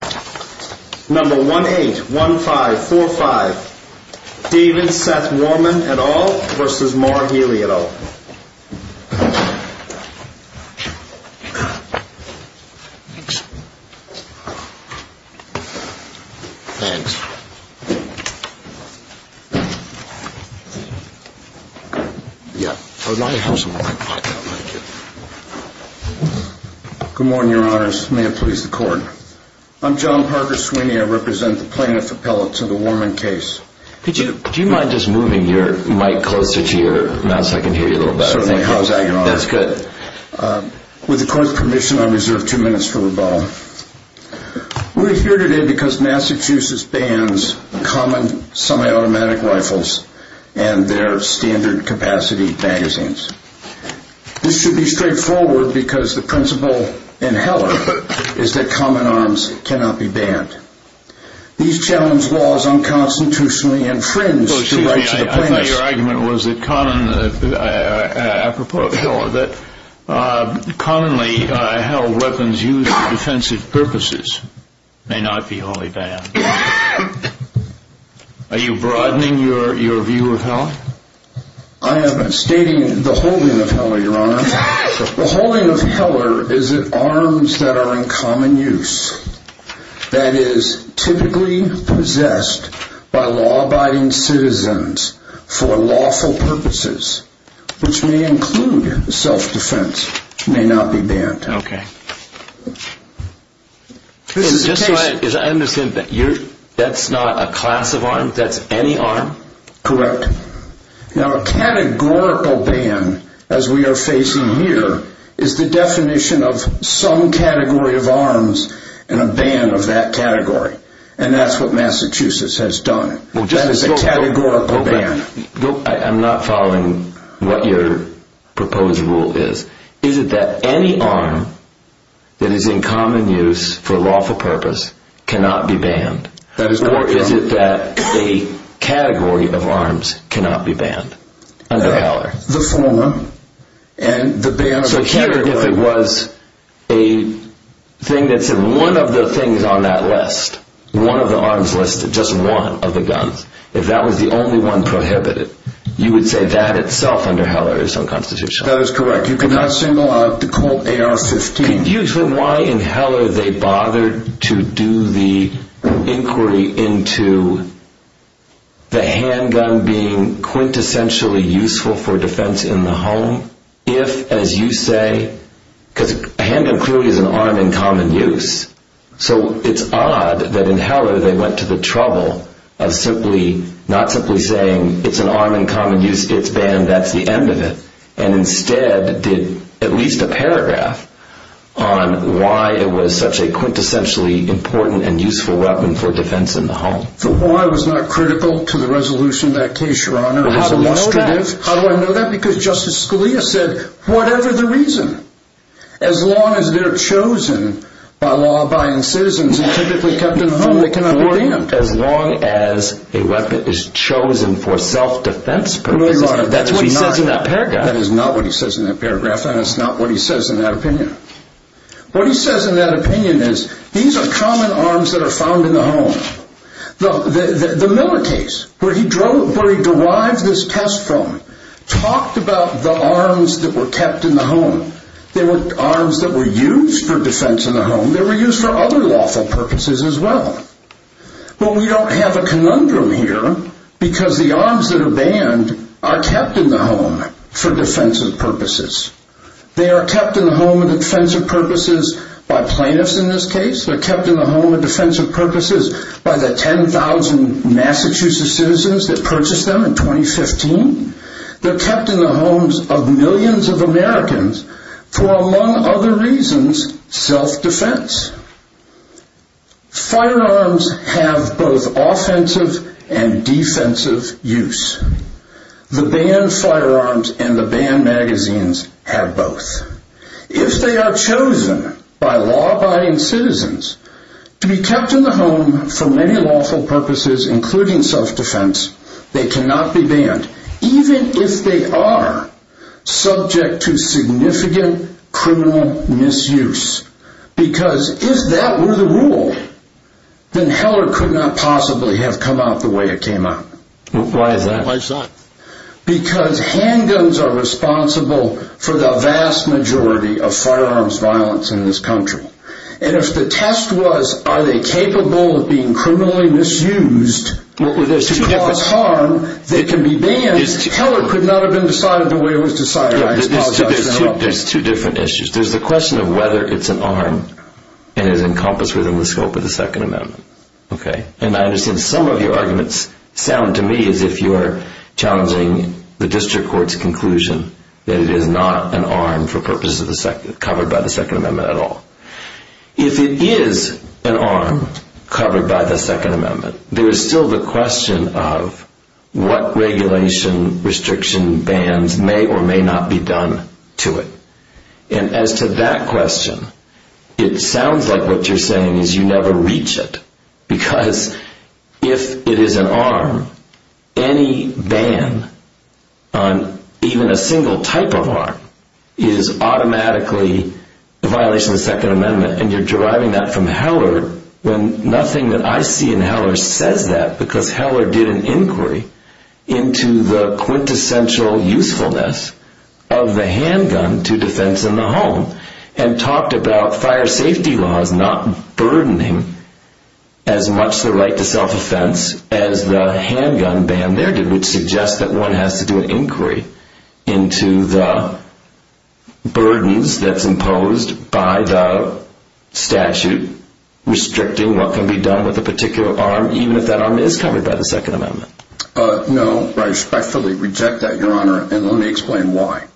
181545 David Seth Worman et al. v. Mark Healey et al. Good morning, your honors. May it please the court. I'm John Parker Sweeney. I represent the plaintiff appellate to the Worman case. Do you mind just moving your mic closer to the mic so I can hear you a little better? Certainly. How's that, your honors? That's good. With the court's permission, I reserve two minutes for rebuttal. We're here today because Massachusetts bans common semi-automatic rifles and their standard capacity magazines. This should be straightforward because the principle in Heller is that common arms cannot be banned. These challenge laws unconstitutionally and fringe the rights of the plaintiffs. I know your argument was that common, apropos of Heller, that commonly held weapons used for defensive purposes may not be wholly banned. Are you broadening your view of Heller? I am stating the holding of Heller, your honors. The holding of Heller is an arms that are in common use. That is, typically possessed by law-abiding citizens for lawful purposes, which may include self-defense, may not be banned. Okay. Just so I understand, that's not a class of arms? That's any arm? Correct. Now, a categorical ban, as we are facing here, is the definition of some category of arms and a ban of that category. And that's what Massachusetts has done. That is a categorical ban. I'm not following what your proposed rule is. Is it that any arm that is in common use for lawful purpose cannot be banned? Or is it that a category of arms cannot be banned under Heller? The former, and the ban of the category. So here, if it was a thing that said one of the things on that list, one of the arms listed, just one of the guns, if that was the only one prohibited, you would say that itself under Heller is unconstitutional? That is correct. You cannot single out the handgun being quintessentially useful for defense in the home if, as you say, because a handgun clearly is an arm in common use. So it's odd that in Heller they went to the trouble of simply, not simply saying it's an arm in common use, it's banned, that's the end of it. And instead did at least a paragraph on why it was such a quintessentially important and useful weapon for defense in the home. So why was that critical to the resolution of that case, Your Honor? How do I know that? Because Justice Scalia said, whatever the reason, as long as they're chosen by law-abiding citizens, they're typically kept in the home, they cannot be banned. As long as a weapon is chosen for self-defense purposes, that's what he says in that paragraph. That is not what he says in that paragraph, and it's not what he says in that opinion. What he says in that opinion is, these are common arms that are found in the home. The Miller case, where he derived this test from, talked about the arms that were kept in the home. They were arms that were used for defense in the home. They were used for other lawful purposes as well. But we don't have a conundrum here, because the arms that are banned are kept in the home for defensive purposes. They are kept in the home for defensive purposes by plaintiffs in this case. They're kept in the home for defensive purposes by the 10,000 Massachusetts citizens that purchased them in 2015. They're kept in the homes of millions of Americans for, among other reasons, self-defense. Firearms have both offensive and defensive use. The banned firearms and the banned magazines have both. If they are chosen by law-abiding citizens to be kept in the home for many lawful purposes, including self-defense, they cannot be banned, even if they are subject to significant criminal misuse. Because if that were the rule, then Heller could not possibly have come out the way it came out. Why is that? Because handguns are responsible for the vast majority of firearms violence in this country. And if the test was, are they capable of being criminally misused to cause harm, they can be banned. Heller could not have been decided by the way it was decided. There's two different issues. There's the question of whether it's an arm and is encompassed within the scope of the Second Amendment. And I understand some of your arguments sound to me as if you are challenging the District Court's conclusion that it is not an arm covered by the Second Amendment at all. If it is an arm covered by the Second Amendment, there is still the question of what regulation, restriction, bans may or may not be done to it. And as to that question, it sounds like what you're saying is you never reach it. Because if it is an arm, any ban on even a single type of arm is automatically a violation of the Second Amendment. And you're deriving that from what I see in Heller says that because Heller did an inquiry into the quintessential usefulness of the handgun to defense in the home and talked about fire safety laws not burdening as much the right to self-offense as the handgun ban there did, which suggests that one has to do an inquiry into the burdens that's imposed by the statute restricting what can be done with a particular arm even if that arm is covered by the Second Amendment. No, I respectfully reject that, Your Honor, and let me explain why.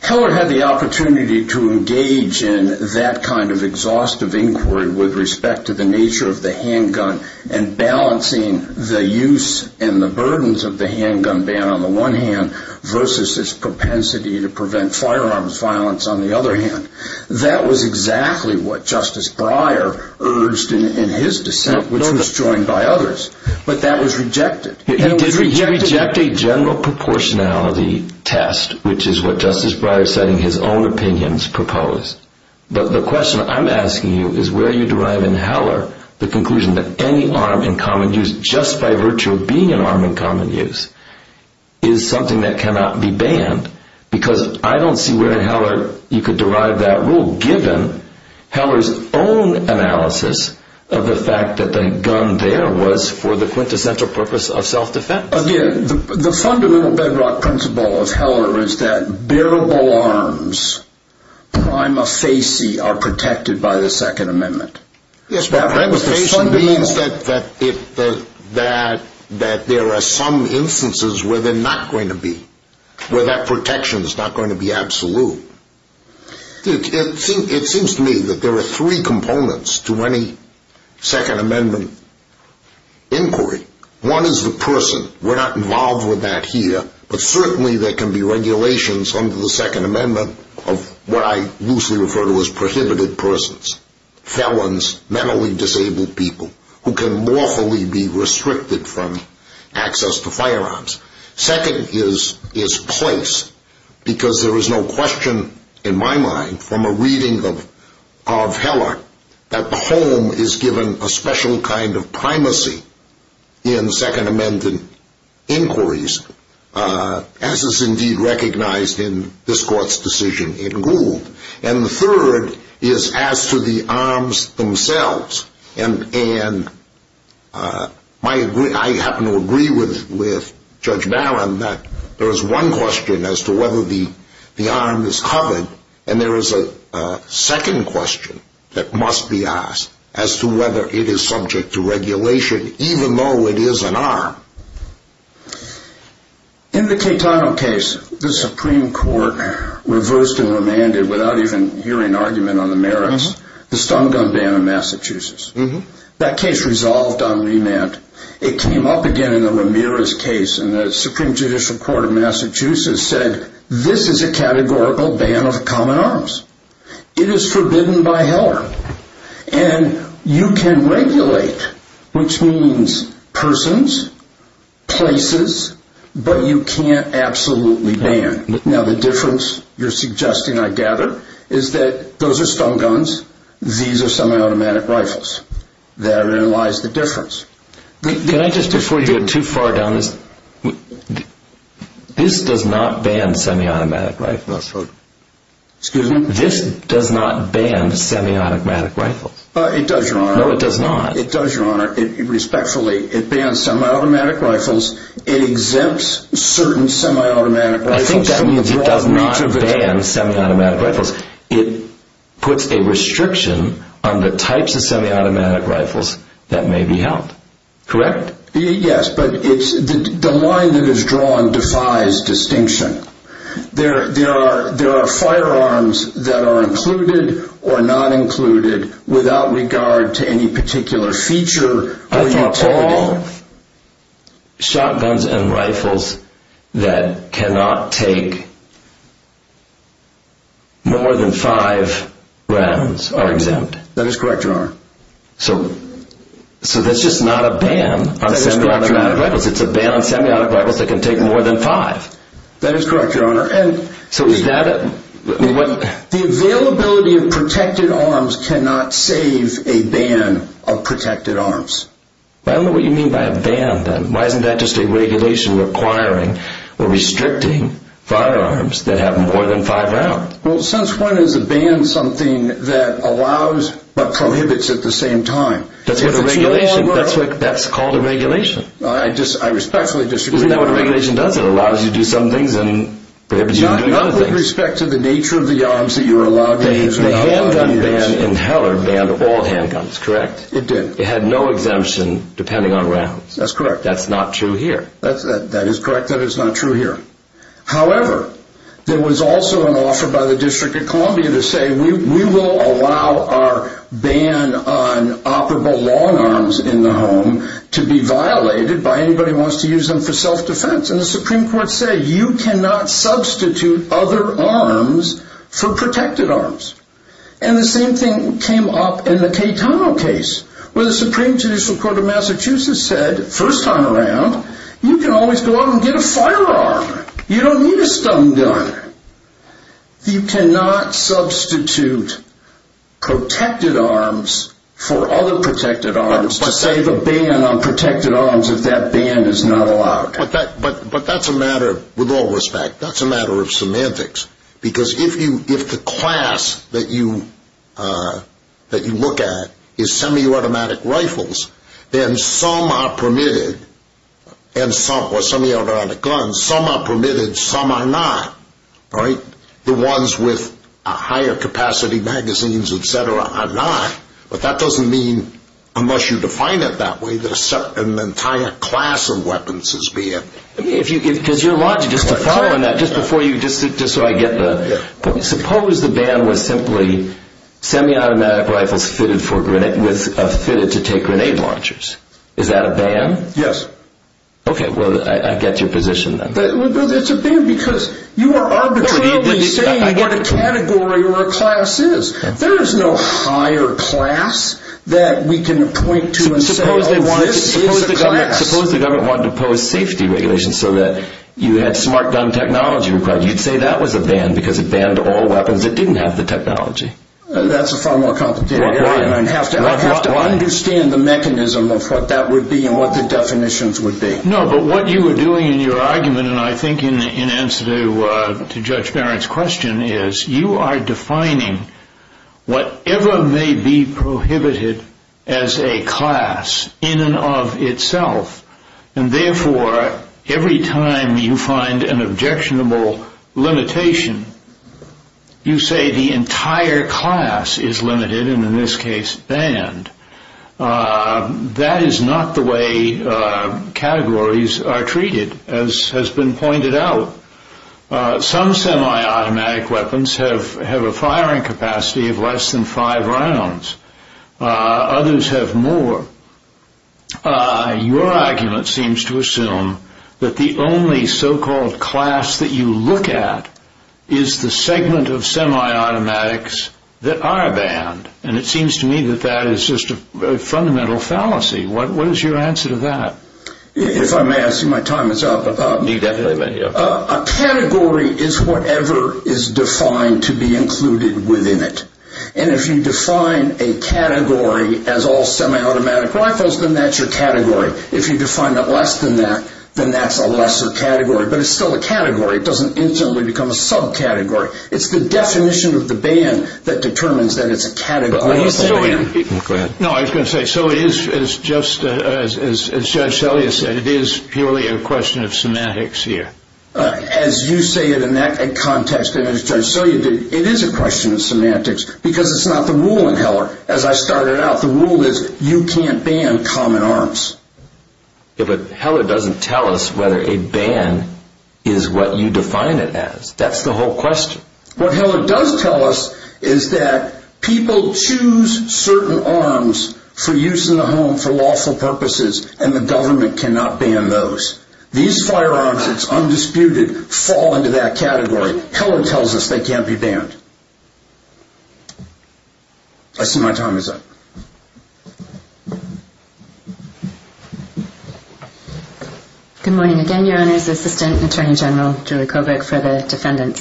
Heller had the opportunity to engage in that kind of exhaustive inquiry with respect to the nature of the handgun and balancing the use and the burdens of the handgun ban on the one hand versus its propensity to prevent firearms violence on the other hand. That was exactly what Justice Breyer urged in his dissent, which was joined by others. But that was rejected. He did reject a general proportionality test, which is what Justice Breyer, citing his own opinions, proposed. But the question I'm asking you is where you derive in Heller the conclusion that any arm in common use, just by virtue of being an arm in common use, is something that cannot be banned. Because I don't see where in Heller you could derive that rule given Heller's own analysis of the fact that the gun there was for the quintessential purpose of self-defense. Again, the fundamental bedrock principle of Heller is that bearable arms, prima facie, are protected by the Second Amendment. Yes, but prima facie means that there are some instances where they're not going to be, where that protection's not going to be absolute. It seems to me that there are three components to any Second Amendment inquiry. One is the person. We're not involved with that here, but certainly there can be regulations under the Second Amendment of what I loosely refer to as prohibited persons, felons, mentally disabled people, who can lawfully be restricted from access to firearms. Second is place, because there is no question in my mind, from a reading of Heller, that the home is given a special kind of primacy in Second Amendment inquiries, as is indeed recognized in this Court's decision in Gould. And the third is as to the arms themselves. And I happen to agree with Judge Barron that there is one question as to whether the arm is covered, and there is a second question that must be asked as to whether it is subject to regulation, even though it is an arm. In the Catano case, the Supreme Court reversed and remanded, without even hearing argument on the merits, the stun gun ban in Massachusetts. That case resolved on remand. It came up again in the Ramirez case, and the Supreme Judicial Court of Massachusetts said this is a categorical ban of common arms. It is forbidden by Heller. And you can regulate, which means persons, places, but you can't absolutely ban. Now the difference, you're suggesting I gather, is that those are stun guns, these are semi-automatic rifles. Therein lies the difference. Can I just, before you go too far down this, this does not ban semi-automatic rifles. Excuse me? This does not ban semi-automatic rifles. It does, Your Honor. No, it does not. It does, Your Honor, respectfully. It bans semi-automatic rifles. It exempts certain semi-automatic rifles. I think that means it does not ban semi-automatic rifles. It puts a restriction on the types of semi-automatic rifles that may be held. Correct? Yes, but the line that is drawn defies distinction. There are firearms that are included or not included without regard to any particular feature. I thought all shotguns and rifles that cannot take more than five rounds are exempt. That is correct, Your Honor. So that's just not a ban on semi-automatic rifles. It's a ban on semi-automatic rifles that can take more than five. That is correct, Your Honor. So is that... The availability of protected arms cannot save a ban of protected arms. I don't know what you mean by a ban, then. Why isn't that just a regulation requiring or restricting firearms that have more than five rounds? Well, since when is a ban something that allows but prohibits at the same time? That's what a regulation... If it's no longer... That's called a regulation. I respectfully disagree, Your Honor. Isn't that what a regulation does? It allows you to do some things and prohibits you from doing other things. Not with respect to the nature of the arms that you're allowed to use. The handgun ban in Heller banned all handguns, correct? It did. It had no exemption depending on rounds. That's correct. That's not true here. That is correct that it's not true here. However, there was also an offer by the District of Columbia to say, we will allow our ban on operable long arms in the home to be violated by anybody who wants to use them for self-defense. And the Supreme Court said you cannot substitute other arms for protected arms. And the same thing came up in the Cayetano case, where the Supreme Judicial Court of Massachusetts said, first time around, you can always go out and get a firearm. You don't need a stun gun. You cannot substitute protected arms for other protected arms to say the ban on protected arms if that ban is not allowed. But that's a matter, with all respect, that's a matter of semantics. Because if the class that you look at is semi-automatic rifles, then some are permitted, or semi-automatic guns, some are permitted, some are not. The ones with higher capacity magazines, et cetera, are not. But that doesn't mean, unless you define it that way, that an entire class of weapons is banned. Because your logic, just to follow on that, just before you, just so I get the, suppose the ban was simply semi-automatic rifles fitted to take grenade launchers. Is that a ban? Yes. Okay, well, I get your position then. But it's a ban because you are arbitrarily saying what a category or a class is. There is no higher class that we can point to and say, oh, this is a class. Suppose the government wanted to impose safety regulations so that you had smart gun technology required. You'd say that was a ban because it banned all weapons that didn't have the technology. That's a far more complicated argument. I'd have to understand the mechanism of what that would be and what the definitions would be. No, but what you were doing in your argument, and I think in answer to Judge Barrett's question, is you are defining whatever may be prohibited as a class in and of itself. And therefore, every time you find an objectionable limitation, you say the entire class is limited, and in this case banned. That is not the way categories are treated, as has been pointed out. Some semi-automatic weapons have a firing capacity of less than five rounds. Others have more. Your argument seems to assume that the only so-called class that you look at is the segment of semi-automatics that are banned, and it seems to me that that is just a fundamental fallacy. What is your answer to that? If I may ask you, my time is up. You definitely may be up. A category is whatever is defined to be included within it, and if you define a category as all semi-automatic rifles, then that's your category. If you define it less than that, then that's a lesser category. But it's still a category. It doesn't instantly become a subcategory. It's the definition of the ban that determines that it's a category. Go ahead. No, I was going to say, as Judge Selye said, it is purely a question of semantics here. As you say it in that context, and as Judge Selye did, it is a question of semantics because it's not the rule in Heller. As I started out, the rule is you can't ban common arms. But Heller doesn't tell us whether a ban is what you define it as. That's the whole question. What Heller does tell us is that people choose certain arms for use in the home for lawful purposes, and the government cannot ban those. These firearms, it's undisputed, fall into that category. But Heller tells us they can't be banned. I see my time is up. Good morning again, Your Honors. Assistant Attorney General Julie Kobach for the defendants.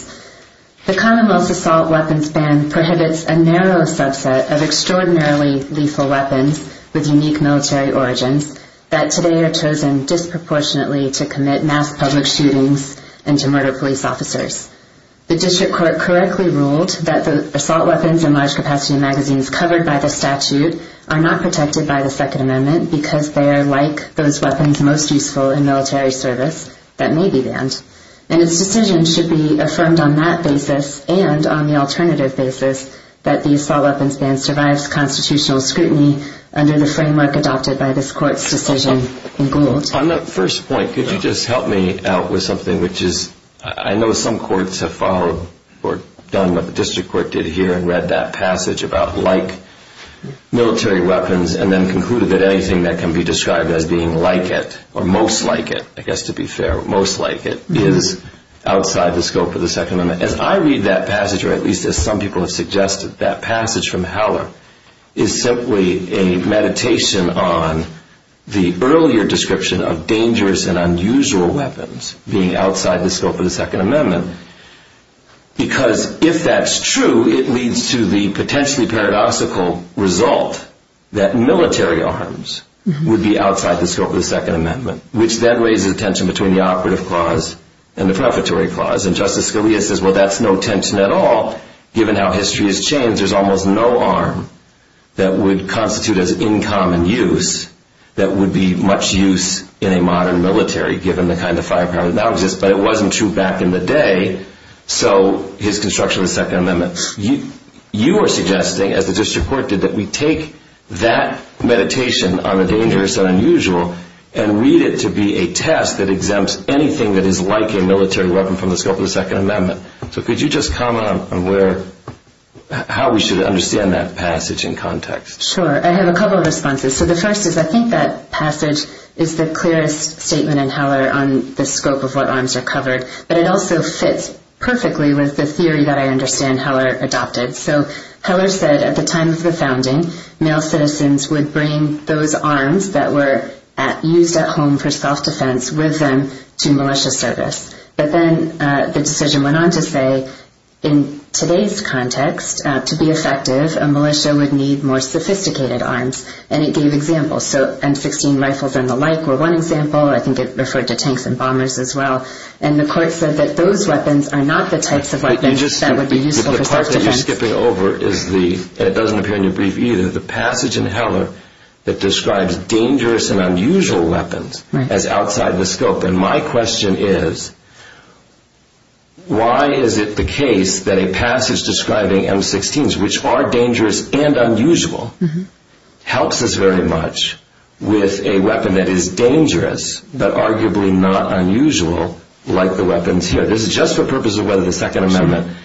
The Commonwealth's assault weapons ban prohibits a narrow subset of extraordinarily lethal weapons with unique military origins that today are chosen disproportionately to commit mass public shootings and to murder police officers. The district court correctly ruled that the assault weapons in large capacity magazines covered by the statute are not protected by the Second Amendment because they are like those weapons most useful in military service that may be banned. And its decision should be affirmed on that basis and on the alternative basis that the assault weapons ban survives constitutional scrutiny under the framework adopted by this court's decision in Gould. On that first point, could you just help me out with something which is, I know some courts have followed or done what the district court did here and read that passage about like military weapons and then concluded that anything that can be described as being like it or most like it, I guess to be fair, most like it is outside the scope of the Second Amendment. As I read that passage, or at least as some people have suggested, that passage from Heller is simply a meditation on the earlier description of dangerous and unusual weapons being outside the scope of the Second Amendment because if that's true, it leads to the potentially paradoxical result that military arms would be outside the scope of the Second Amendment, which then raises a tension between the operative clause and the prefatory clause. And Justice Scalia says, well, that's no tension at all given how history has changed. There's almost no arm that would constitute as in common use that would be much use in a modern military given the kind of firepower that now exists. But it wasn't true back in the day, so his construction of the Second Amendment. You are suggesting, as the district court did, that we take that meditation on the dangerous and unusual and read it to be a test that exempts anything that is like a military weapon from the scope of the Second Amendment. So could you just comment on how we should understand that passage in context? Sure. I have a couple of responses. So the first is I think that passage is the clearest statement in Heller on the scope of what arms are covered. But it also fits perfectly with the theory that I understand Heller adopted. So Heller said at the time of the founding, male citizens would bring those arms that were used at home for self-defense with them to militia service. But then the decision went on to say in today's context, to be effective, a militia would need more sophisticated arms. And it gave examples. So M16 rifles and the like were one example. I think it referred to tanks and bombers as well. And the court said that those weapons are not the types of weapons that would be useful for self-defense. The part that you're skipping over, and it doesn't appear in your brief either, is the passage in Heller that describes dangerous and unusual weapons as outside the scope. And my question is, why is it the case that a passage describing M16s, which are dangerous and unusual, helps us very much with a weapon that is dangerous, but arguably not unusual like the weapons here? This is just for purposes of whether the Second Amendment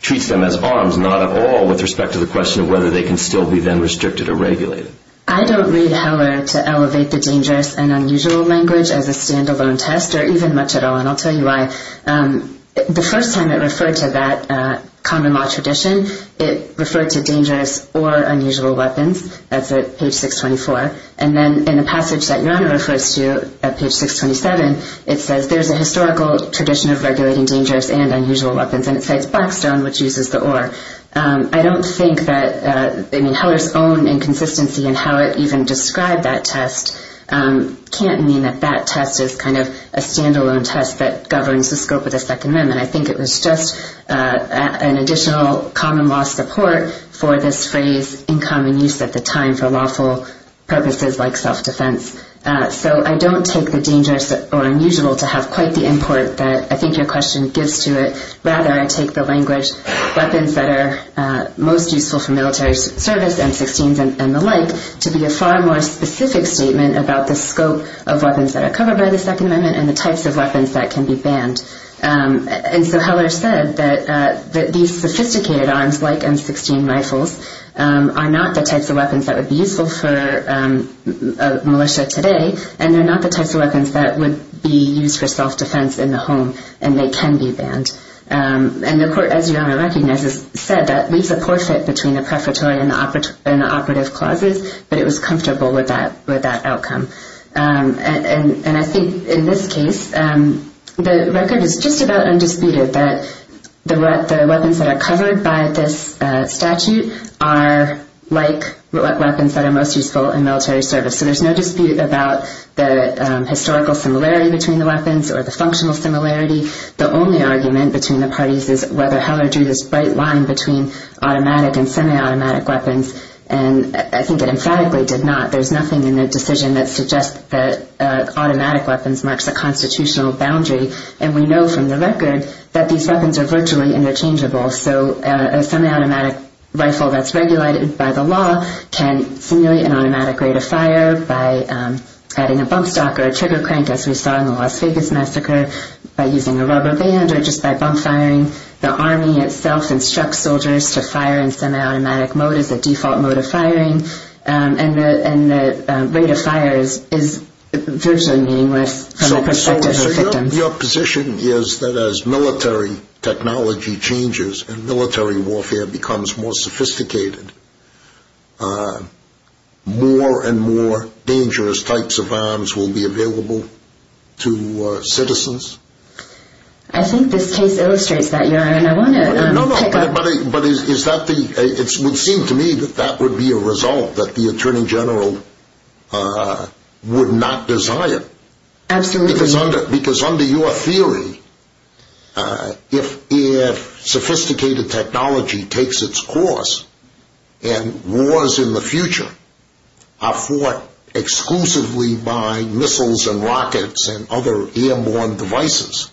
treats them as arms. Not at all with respect to the question of whether they can still be then restricted or regulated. I don't read Heller to elevate the dangerous and unusual language as a stand-alone test, or even much at all. And I'll tell you why. The first time it referred to that common law tradition, it referred to dangerous or unusual weapons. That's at page 624. And then in the passage that Your Honor refers to at page 627, it says there's a historical tradition of regulating dangerous and unusual weapons. And it says Blackstone, which uses the oar. I don't think that Heller's own inconsistency in how it even described that test can't mean that that test is kind of a stand-alone test that governs the scope of the Second Amendment. I think it was just an additional common law support for this phrase in common use at the time for lawful purposes like self-defense. So I don't take the dangerous or unusual to have quite the import that I think your question gives to it. Rather, I take the language weapons that are most useful for military service, M16s and the like, to be a far more specific statement about the scope of weapons that are covered by the Second Amendment and the types of weapons that can be banned. And so Heller said that these sophisticated arms like M16 rifles are not the types of weapons that would be useful for a militia today, and they're not the types of weapons that would be used for self-defense in the home, and they can be banned. And the court, as your Honor recognizes, said that leaves a poor fit between the prefatory and the operative clauses, but it was comfortable with that outcome. And I think in this case, the record is just about undisputed that the weapons that are covered by this statute are like weapons that are most useful in military service. So there's no dispute about the historical similarity between the weapons or the functional similarity. The only argument between the parties is whether Heller drew this bright line between automatic and semi-automatic weapons, and I think it emphatically did not. There's nothing in the decision that suggests that automatic weapons marks a constitutional boundary, and we know from the record that these weapons are virtually interchangeable. So a semi-automatic rifle that's regulated by the law can simulate an automatic rate of fire by adding a bump stock or a trigger crank, as we saw in the Las Vegas massacre, by using a rubber band or just by bump firing. The Army itself instructs soldiers to fire in semi-automatic mode as a default mode of firing, and the rate of fire is virtually meaningless from the perspective of victims. Your position is that as military technology changes and military warfare becomes more sophisticated, more and more dangerous types of arms will be available to citizens? I think this case illustrates that, Your Honor, and I want to pick up... No, no, but it would seem to me that that would be a result that the Attorney General would not desire. Absolutely. Because under your theory, if sophisticated technology takes its course and wars in the future are fought exclusively by missiles and rockets and other airborne devices,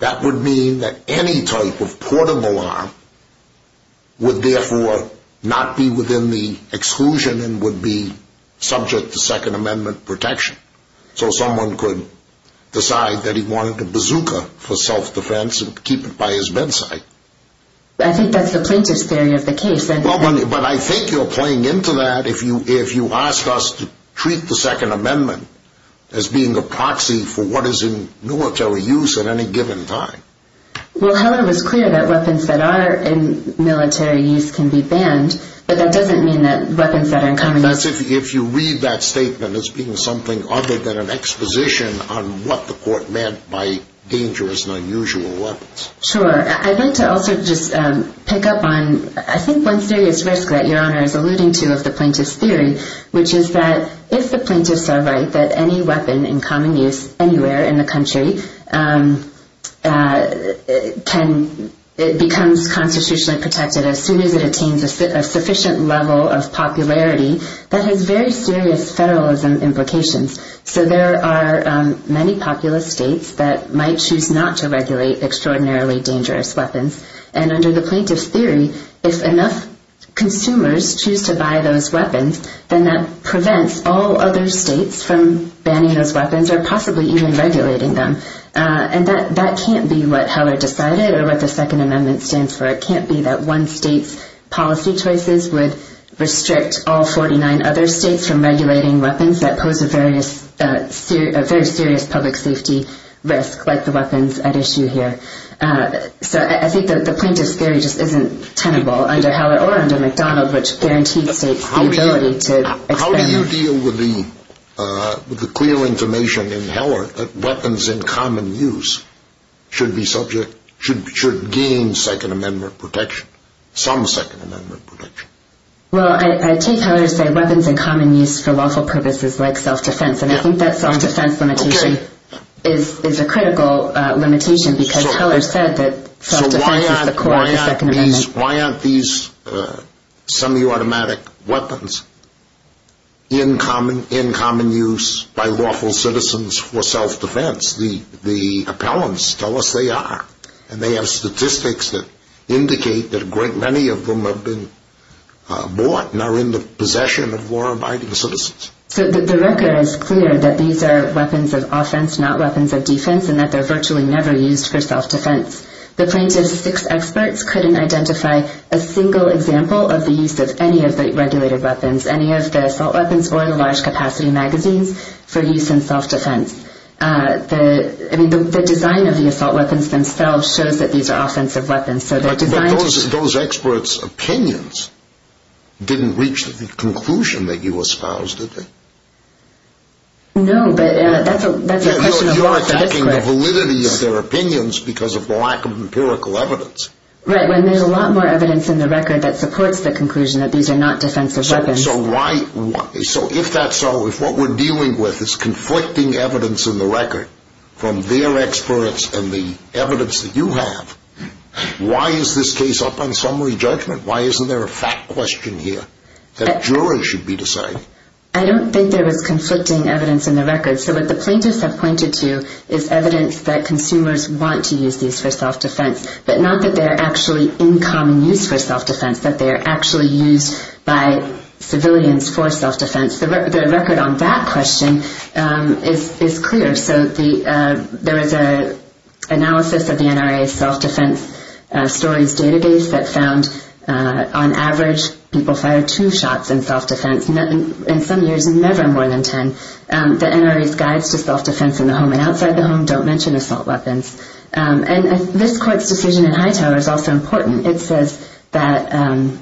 that would mean that any type of portable arm would therefore not be within the exclusion and would be subject to Second Amendment protection. So someone could decide that he wanted a bazooka for self-defense and keep it by his bedside. I think that's the plaintiff's theory of the case. But I think you're playing into that if you ask us to treat the Second Amendment as being a proxy for what is in military use at any given time. Well, however, it's clear that weapons that are in military use can be banned, but that doesn't mean that weapons that are in common... If you read that statement as being something other than an exposition on what the court meant by dangerous and unusual weapons. Sure. I'd like to also just pick up on, I think, one serious risk that Your Honor is alluding to of the plaintiff's theory, which is that if the plaintiffs are right, that any weapon in common use anywhere in the country becomes constitutionally protected as soon as it attains a sufficient level of popularity, that has very serious federalism implications. So there are many populous states that might choose not to regulate extraordinarily dangerous weapons. And under the plaintiff's theory, if enough consumers choose to buy those weapons, then that prevents all other states from banning those weapons or possibly even regulating them. And that can't be what Heller decided or what the Second Amendment stands for. It can't be that one state's policy choices would restrict all 49 other states from regulating weapons that pose a very serious public safety risk, like the weapons at issue here. So I think that the plaintiff's theory just isn't tenable under Heller or under McDonald, which guarantees states the ability to... How do you deal with the clear information in Heller that weapons in common use should gain Second Amendment protection, some Second Amendment protection? Well, I take Heller to say weapons in common use for lawful purposes, like self-defense, and I think that self-defense limitation is a critical limitation, because Heller said that self-defense is the core of the Second Amendment. So why aren't these semi-automatic weapons in common use by lawful citizens for self-defense? The appellants tell us they are, and they have statistics that indicate that a great many of them have been bought and are in the possession of law-abiding citizens. So the record is clear that these are weapons of offense, not weapons of defense, and that they're virtually never used for self-defense. The plaintiff's six experts couldn't identify a single example of the use of any of the regulated weapons, any of the assault weapons or the large-capacity magazines for use in self-defense. The design of the assault weapons themselves shows that these are offensive weapons. But those experts' opinions didn't reach the conclusion that you espoused, did they? No, but that's a question of law. You're attacking the validity of their opinions because of the lack of empirical evidence. Right, when there's a lot more evidence in the record that supports the conclusion that these are not defensive weapons. So if that's so, if what we're dealing with is conflicting evidence in the record from their experts and the evidence that you have, why is this case up on summary judgment? Why isn't there a fact question here that a juror should be deciding? I don't think there was conflicting evidence in the record. So what the plaintiffs have pointed to is evidence that consumers want to use these for self-defense, but not that they're actually in common use for self-defense, that they're actually used by civilians for self-defense. The record on that question is clear. So there was an analysis of the NRA self-defense stories database that found, on average, people fired two shots in self-defense, and in some years, never more than ten. The NRA's guides to self-defense in the home and outside the home don't mention assault weapons. And this court's decision in Hightower is also important. It says that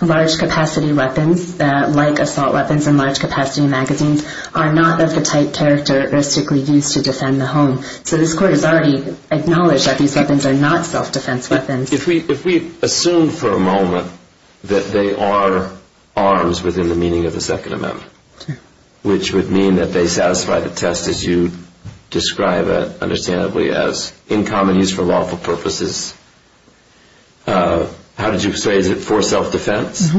large-capacity weapons, like assault weapons and large-capacity magazines, are not of the type characteristically used to defend the home. So this court has already acknowledged that these weapons are not self-defense weapons. If we assume for a moment that they are arms within the meaning of the Second Amendment, which would mean that they satisfy the test as you describe it, understandably, as in common use for lawful purposes, how did you say, is it for self-defense?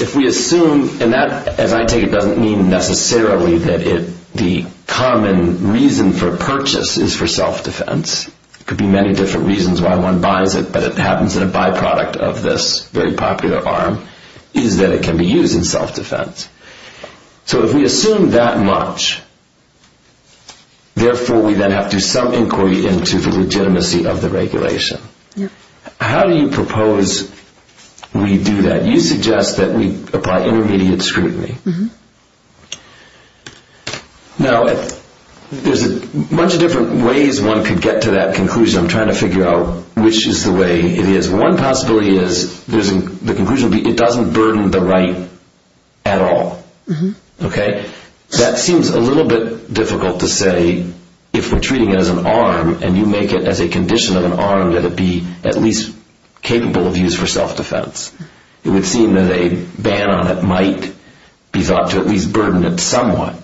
If we assume, and that, as I take it, doesn't mean necessarily that the common reason for purchase is for self-defense. It could be many different reasons why one buys it, but it happens in a byproduct of this very popular arm, is that it can be used in self-defense. So if we assume that much, therefore we then have to do some inquiry into the legitimacy of the regulation. How do you propose we do that? You suggest that we apply intermediate scrutiny. Now, there's a bunch of different ways one could get to that conclusion. I'm trying to figure out which is the way it is. One possibility is the conclusion would be it doesn't burden the right at all. That seems a little bit difficult to say if we're treating it as an arm, and you make it as a condition of an arm that it be at least capable of use for self-defense. It would seem that a ban on it might be thought to at least burden it somewhat.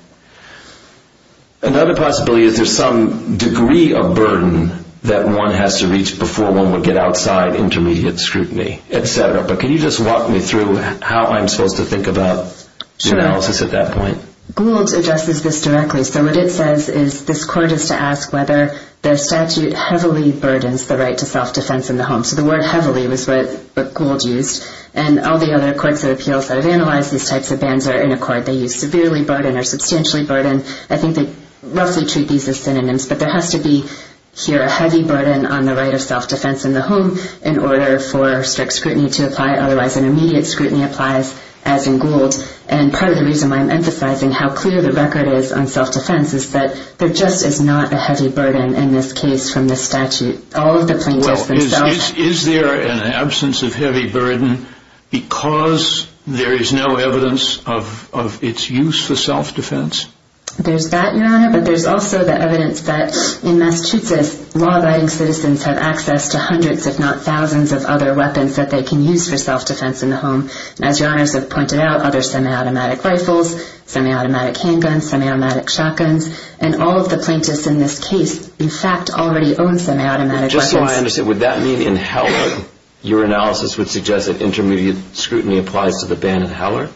Another possibility is there's some degree of burden that one has to reach before one would get outside intermediate scrutiny, et cetera. But can you just walk me through how I'm supposed to think about the analysis at that point? Gould addresses this directly. So what it says is this court is to ask whether the statute heavily burdens the right to self-defense in the home. So the word heavily was what Gould used. And all the other courts of appeals that have analyzed these types of bans are in accord. They use severely burden or substantially burden. I think they roughly treat these as synonyms. But there has to be here a heavy burden on the right of self-defense in the home in order for strict scrutiny to apply. Otherwise, an immediate scrutiny applies, as in Gould. And part of the reason why I'm emphasizing how clear the record is on self-defense is that there just is not a heavy burden in this case from the statute. All of the plaintiffs themselves. Is there an absence of heavy burden because there is no evidence of its use for self-defense? There's that, Your Honor. But there's also the evidence that in Massachusetts, law-abiding citizens have access to hundreds if not thousands of other weapons that they can use for self-defense in the home. As Your Honors have pointed out, other semiautomatic rifles, semiautomatic handguns, semiautomatic shotguns, and all of the plaintiffs in this case, in fact, already own semiautomatic weapons. Just so I understand, would that mean in Heller, your analysis would suggest that intermediate scrutiny applies to the ban in Heller?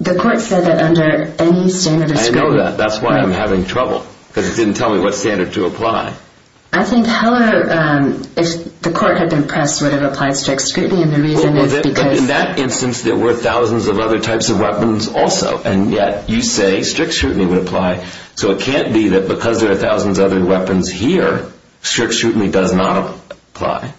The court said that under any standard of scrutiny. I know that. That's why I'm having trouble. Because it didn't tell me what standard to apply. I think Heller, if the court had been pressed, would have applied strict scrutiny. In that instance, there were thousands of other types of weapons also. And yet you say strict scrutiny would apply. So it can't be that because there are thousands of other weapons here, strict scrutiny does not apply.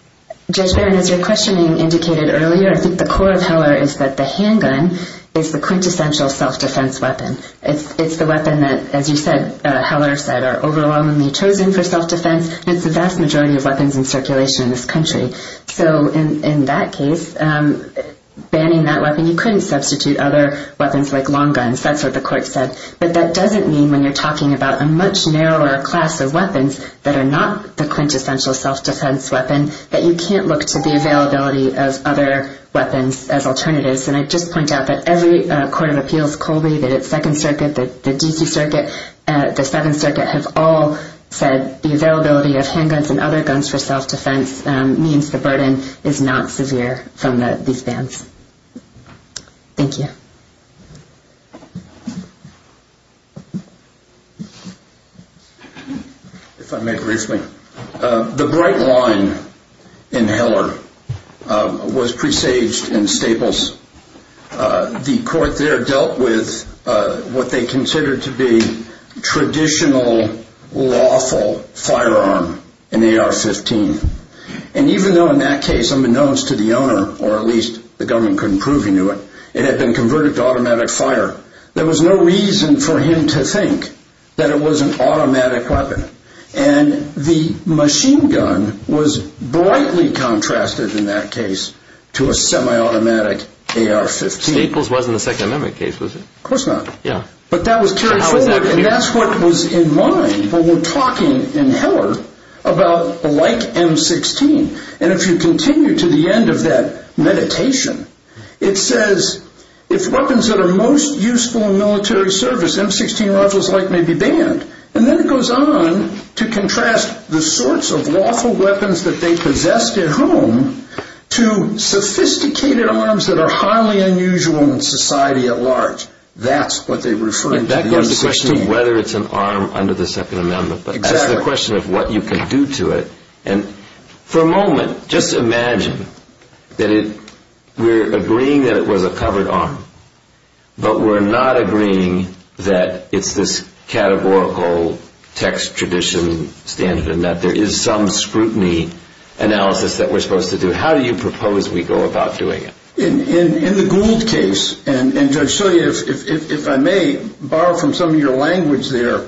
Judge Barron, as your questioning indicated earlier, I think the core of Heller is that the handgun is the quintessential self-defense weapon. It's the weapon that, as you said, Heller said, are overwhelmingly chosen for self-defense. And it's the vast majority of weapons in circulation in this country. So in that case, banning that weapon, you couldn't substitute other weapons like long guns. That's what the court said. But that doesn't mean when you're talking about a much narrower class of weapons that are not the quintessential self-defense weapon that you can't look to the availability of other weapons as alternatives. And I'd just point out that every court of appeals, Colby, that at Second Circuit, the D.C. Circuit, the Seventh Circuit have all said the availability of handguns and other guns for self-defense means the burden is not severe from these bans. Thank you. If I may briefly. The bright line in Heller was presaged in Staples. The court there dealt with what they considered to be traditional, lawful firearm, an AR-15. And even though in that case, unbeknownst to the owner, or at least the government couldn't prove he knew it, it had been converted to automatic fire, there was no reason for him to think that it was an automatic weapon. And the machine gun was brightly contrasted in that case to a semi-automatic AR-15. Staples wasn't a Second Amendment case, was it? Of course not. But that was carried forward, and that's what was in mind when we're talking in Heller about a like M-16. And if you continue to the end of that meditation, it says if weapons that are most useful in military service, M-16 rifles like may be banned. And then it goes on to contrast the sorts of lawful weapons that they possessed at home to sophisticated arms that are highly unusual in society at large. That's what they were referring to. That goes to the question of whether it's an arm under the Second Amendment. Exactly. That's the question of what you can do to it. And for a moment, just imagine that we're agreeing that it was a covered arm, but we're not agreeing that it's this categorical text tradition standard and that there is some scrutiny analysis that we're supposed to do. How do you propose we go about doing it? In the Gould case, and Judge Sully, if I may borrow from some of your language there,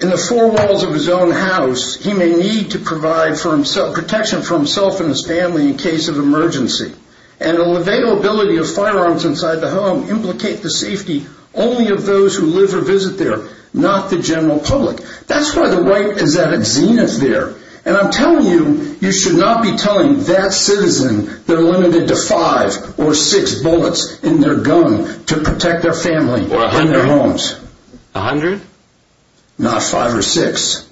in the four walls of his own house, he may need to provide protection for himself and his family in case of emergency. And the availability of firearms inside the home implicate the safety only of those who live or visit there, not the general public. That's why the right is at its zenith there. And I'm telling you, you should not be telling that citizen they're limited to five A hundred? Not five or six.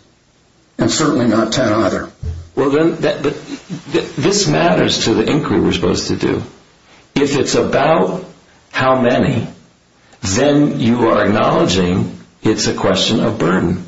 And certainly not ten either. Well then, this matters to the inquiry we're supposed to do. If it's about how many, then you are acknowledging it's a question of burden.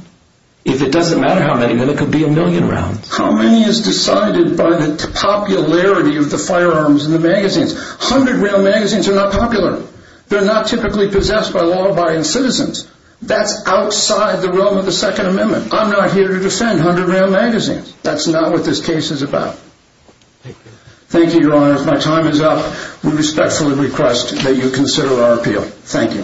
If it doesn't matter how many, then it could be a million rounds. How many is decided by the popularity of the firearms in the magazines. A hundred round magazines are not popular. They're not typically possessed by law-abiding citizens. That's outside the realm of the Second Amendment. I'm not here to defend hundred round magazines. That's not what this case is about. Thank you, Your Honor. If my time is up, we respectfully request that you consider our appeal. Thank you.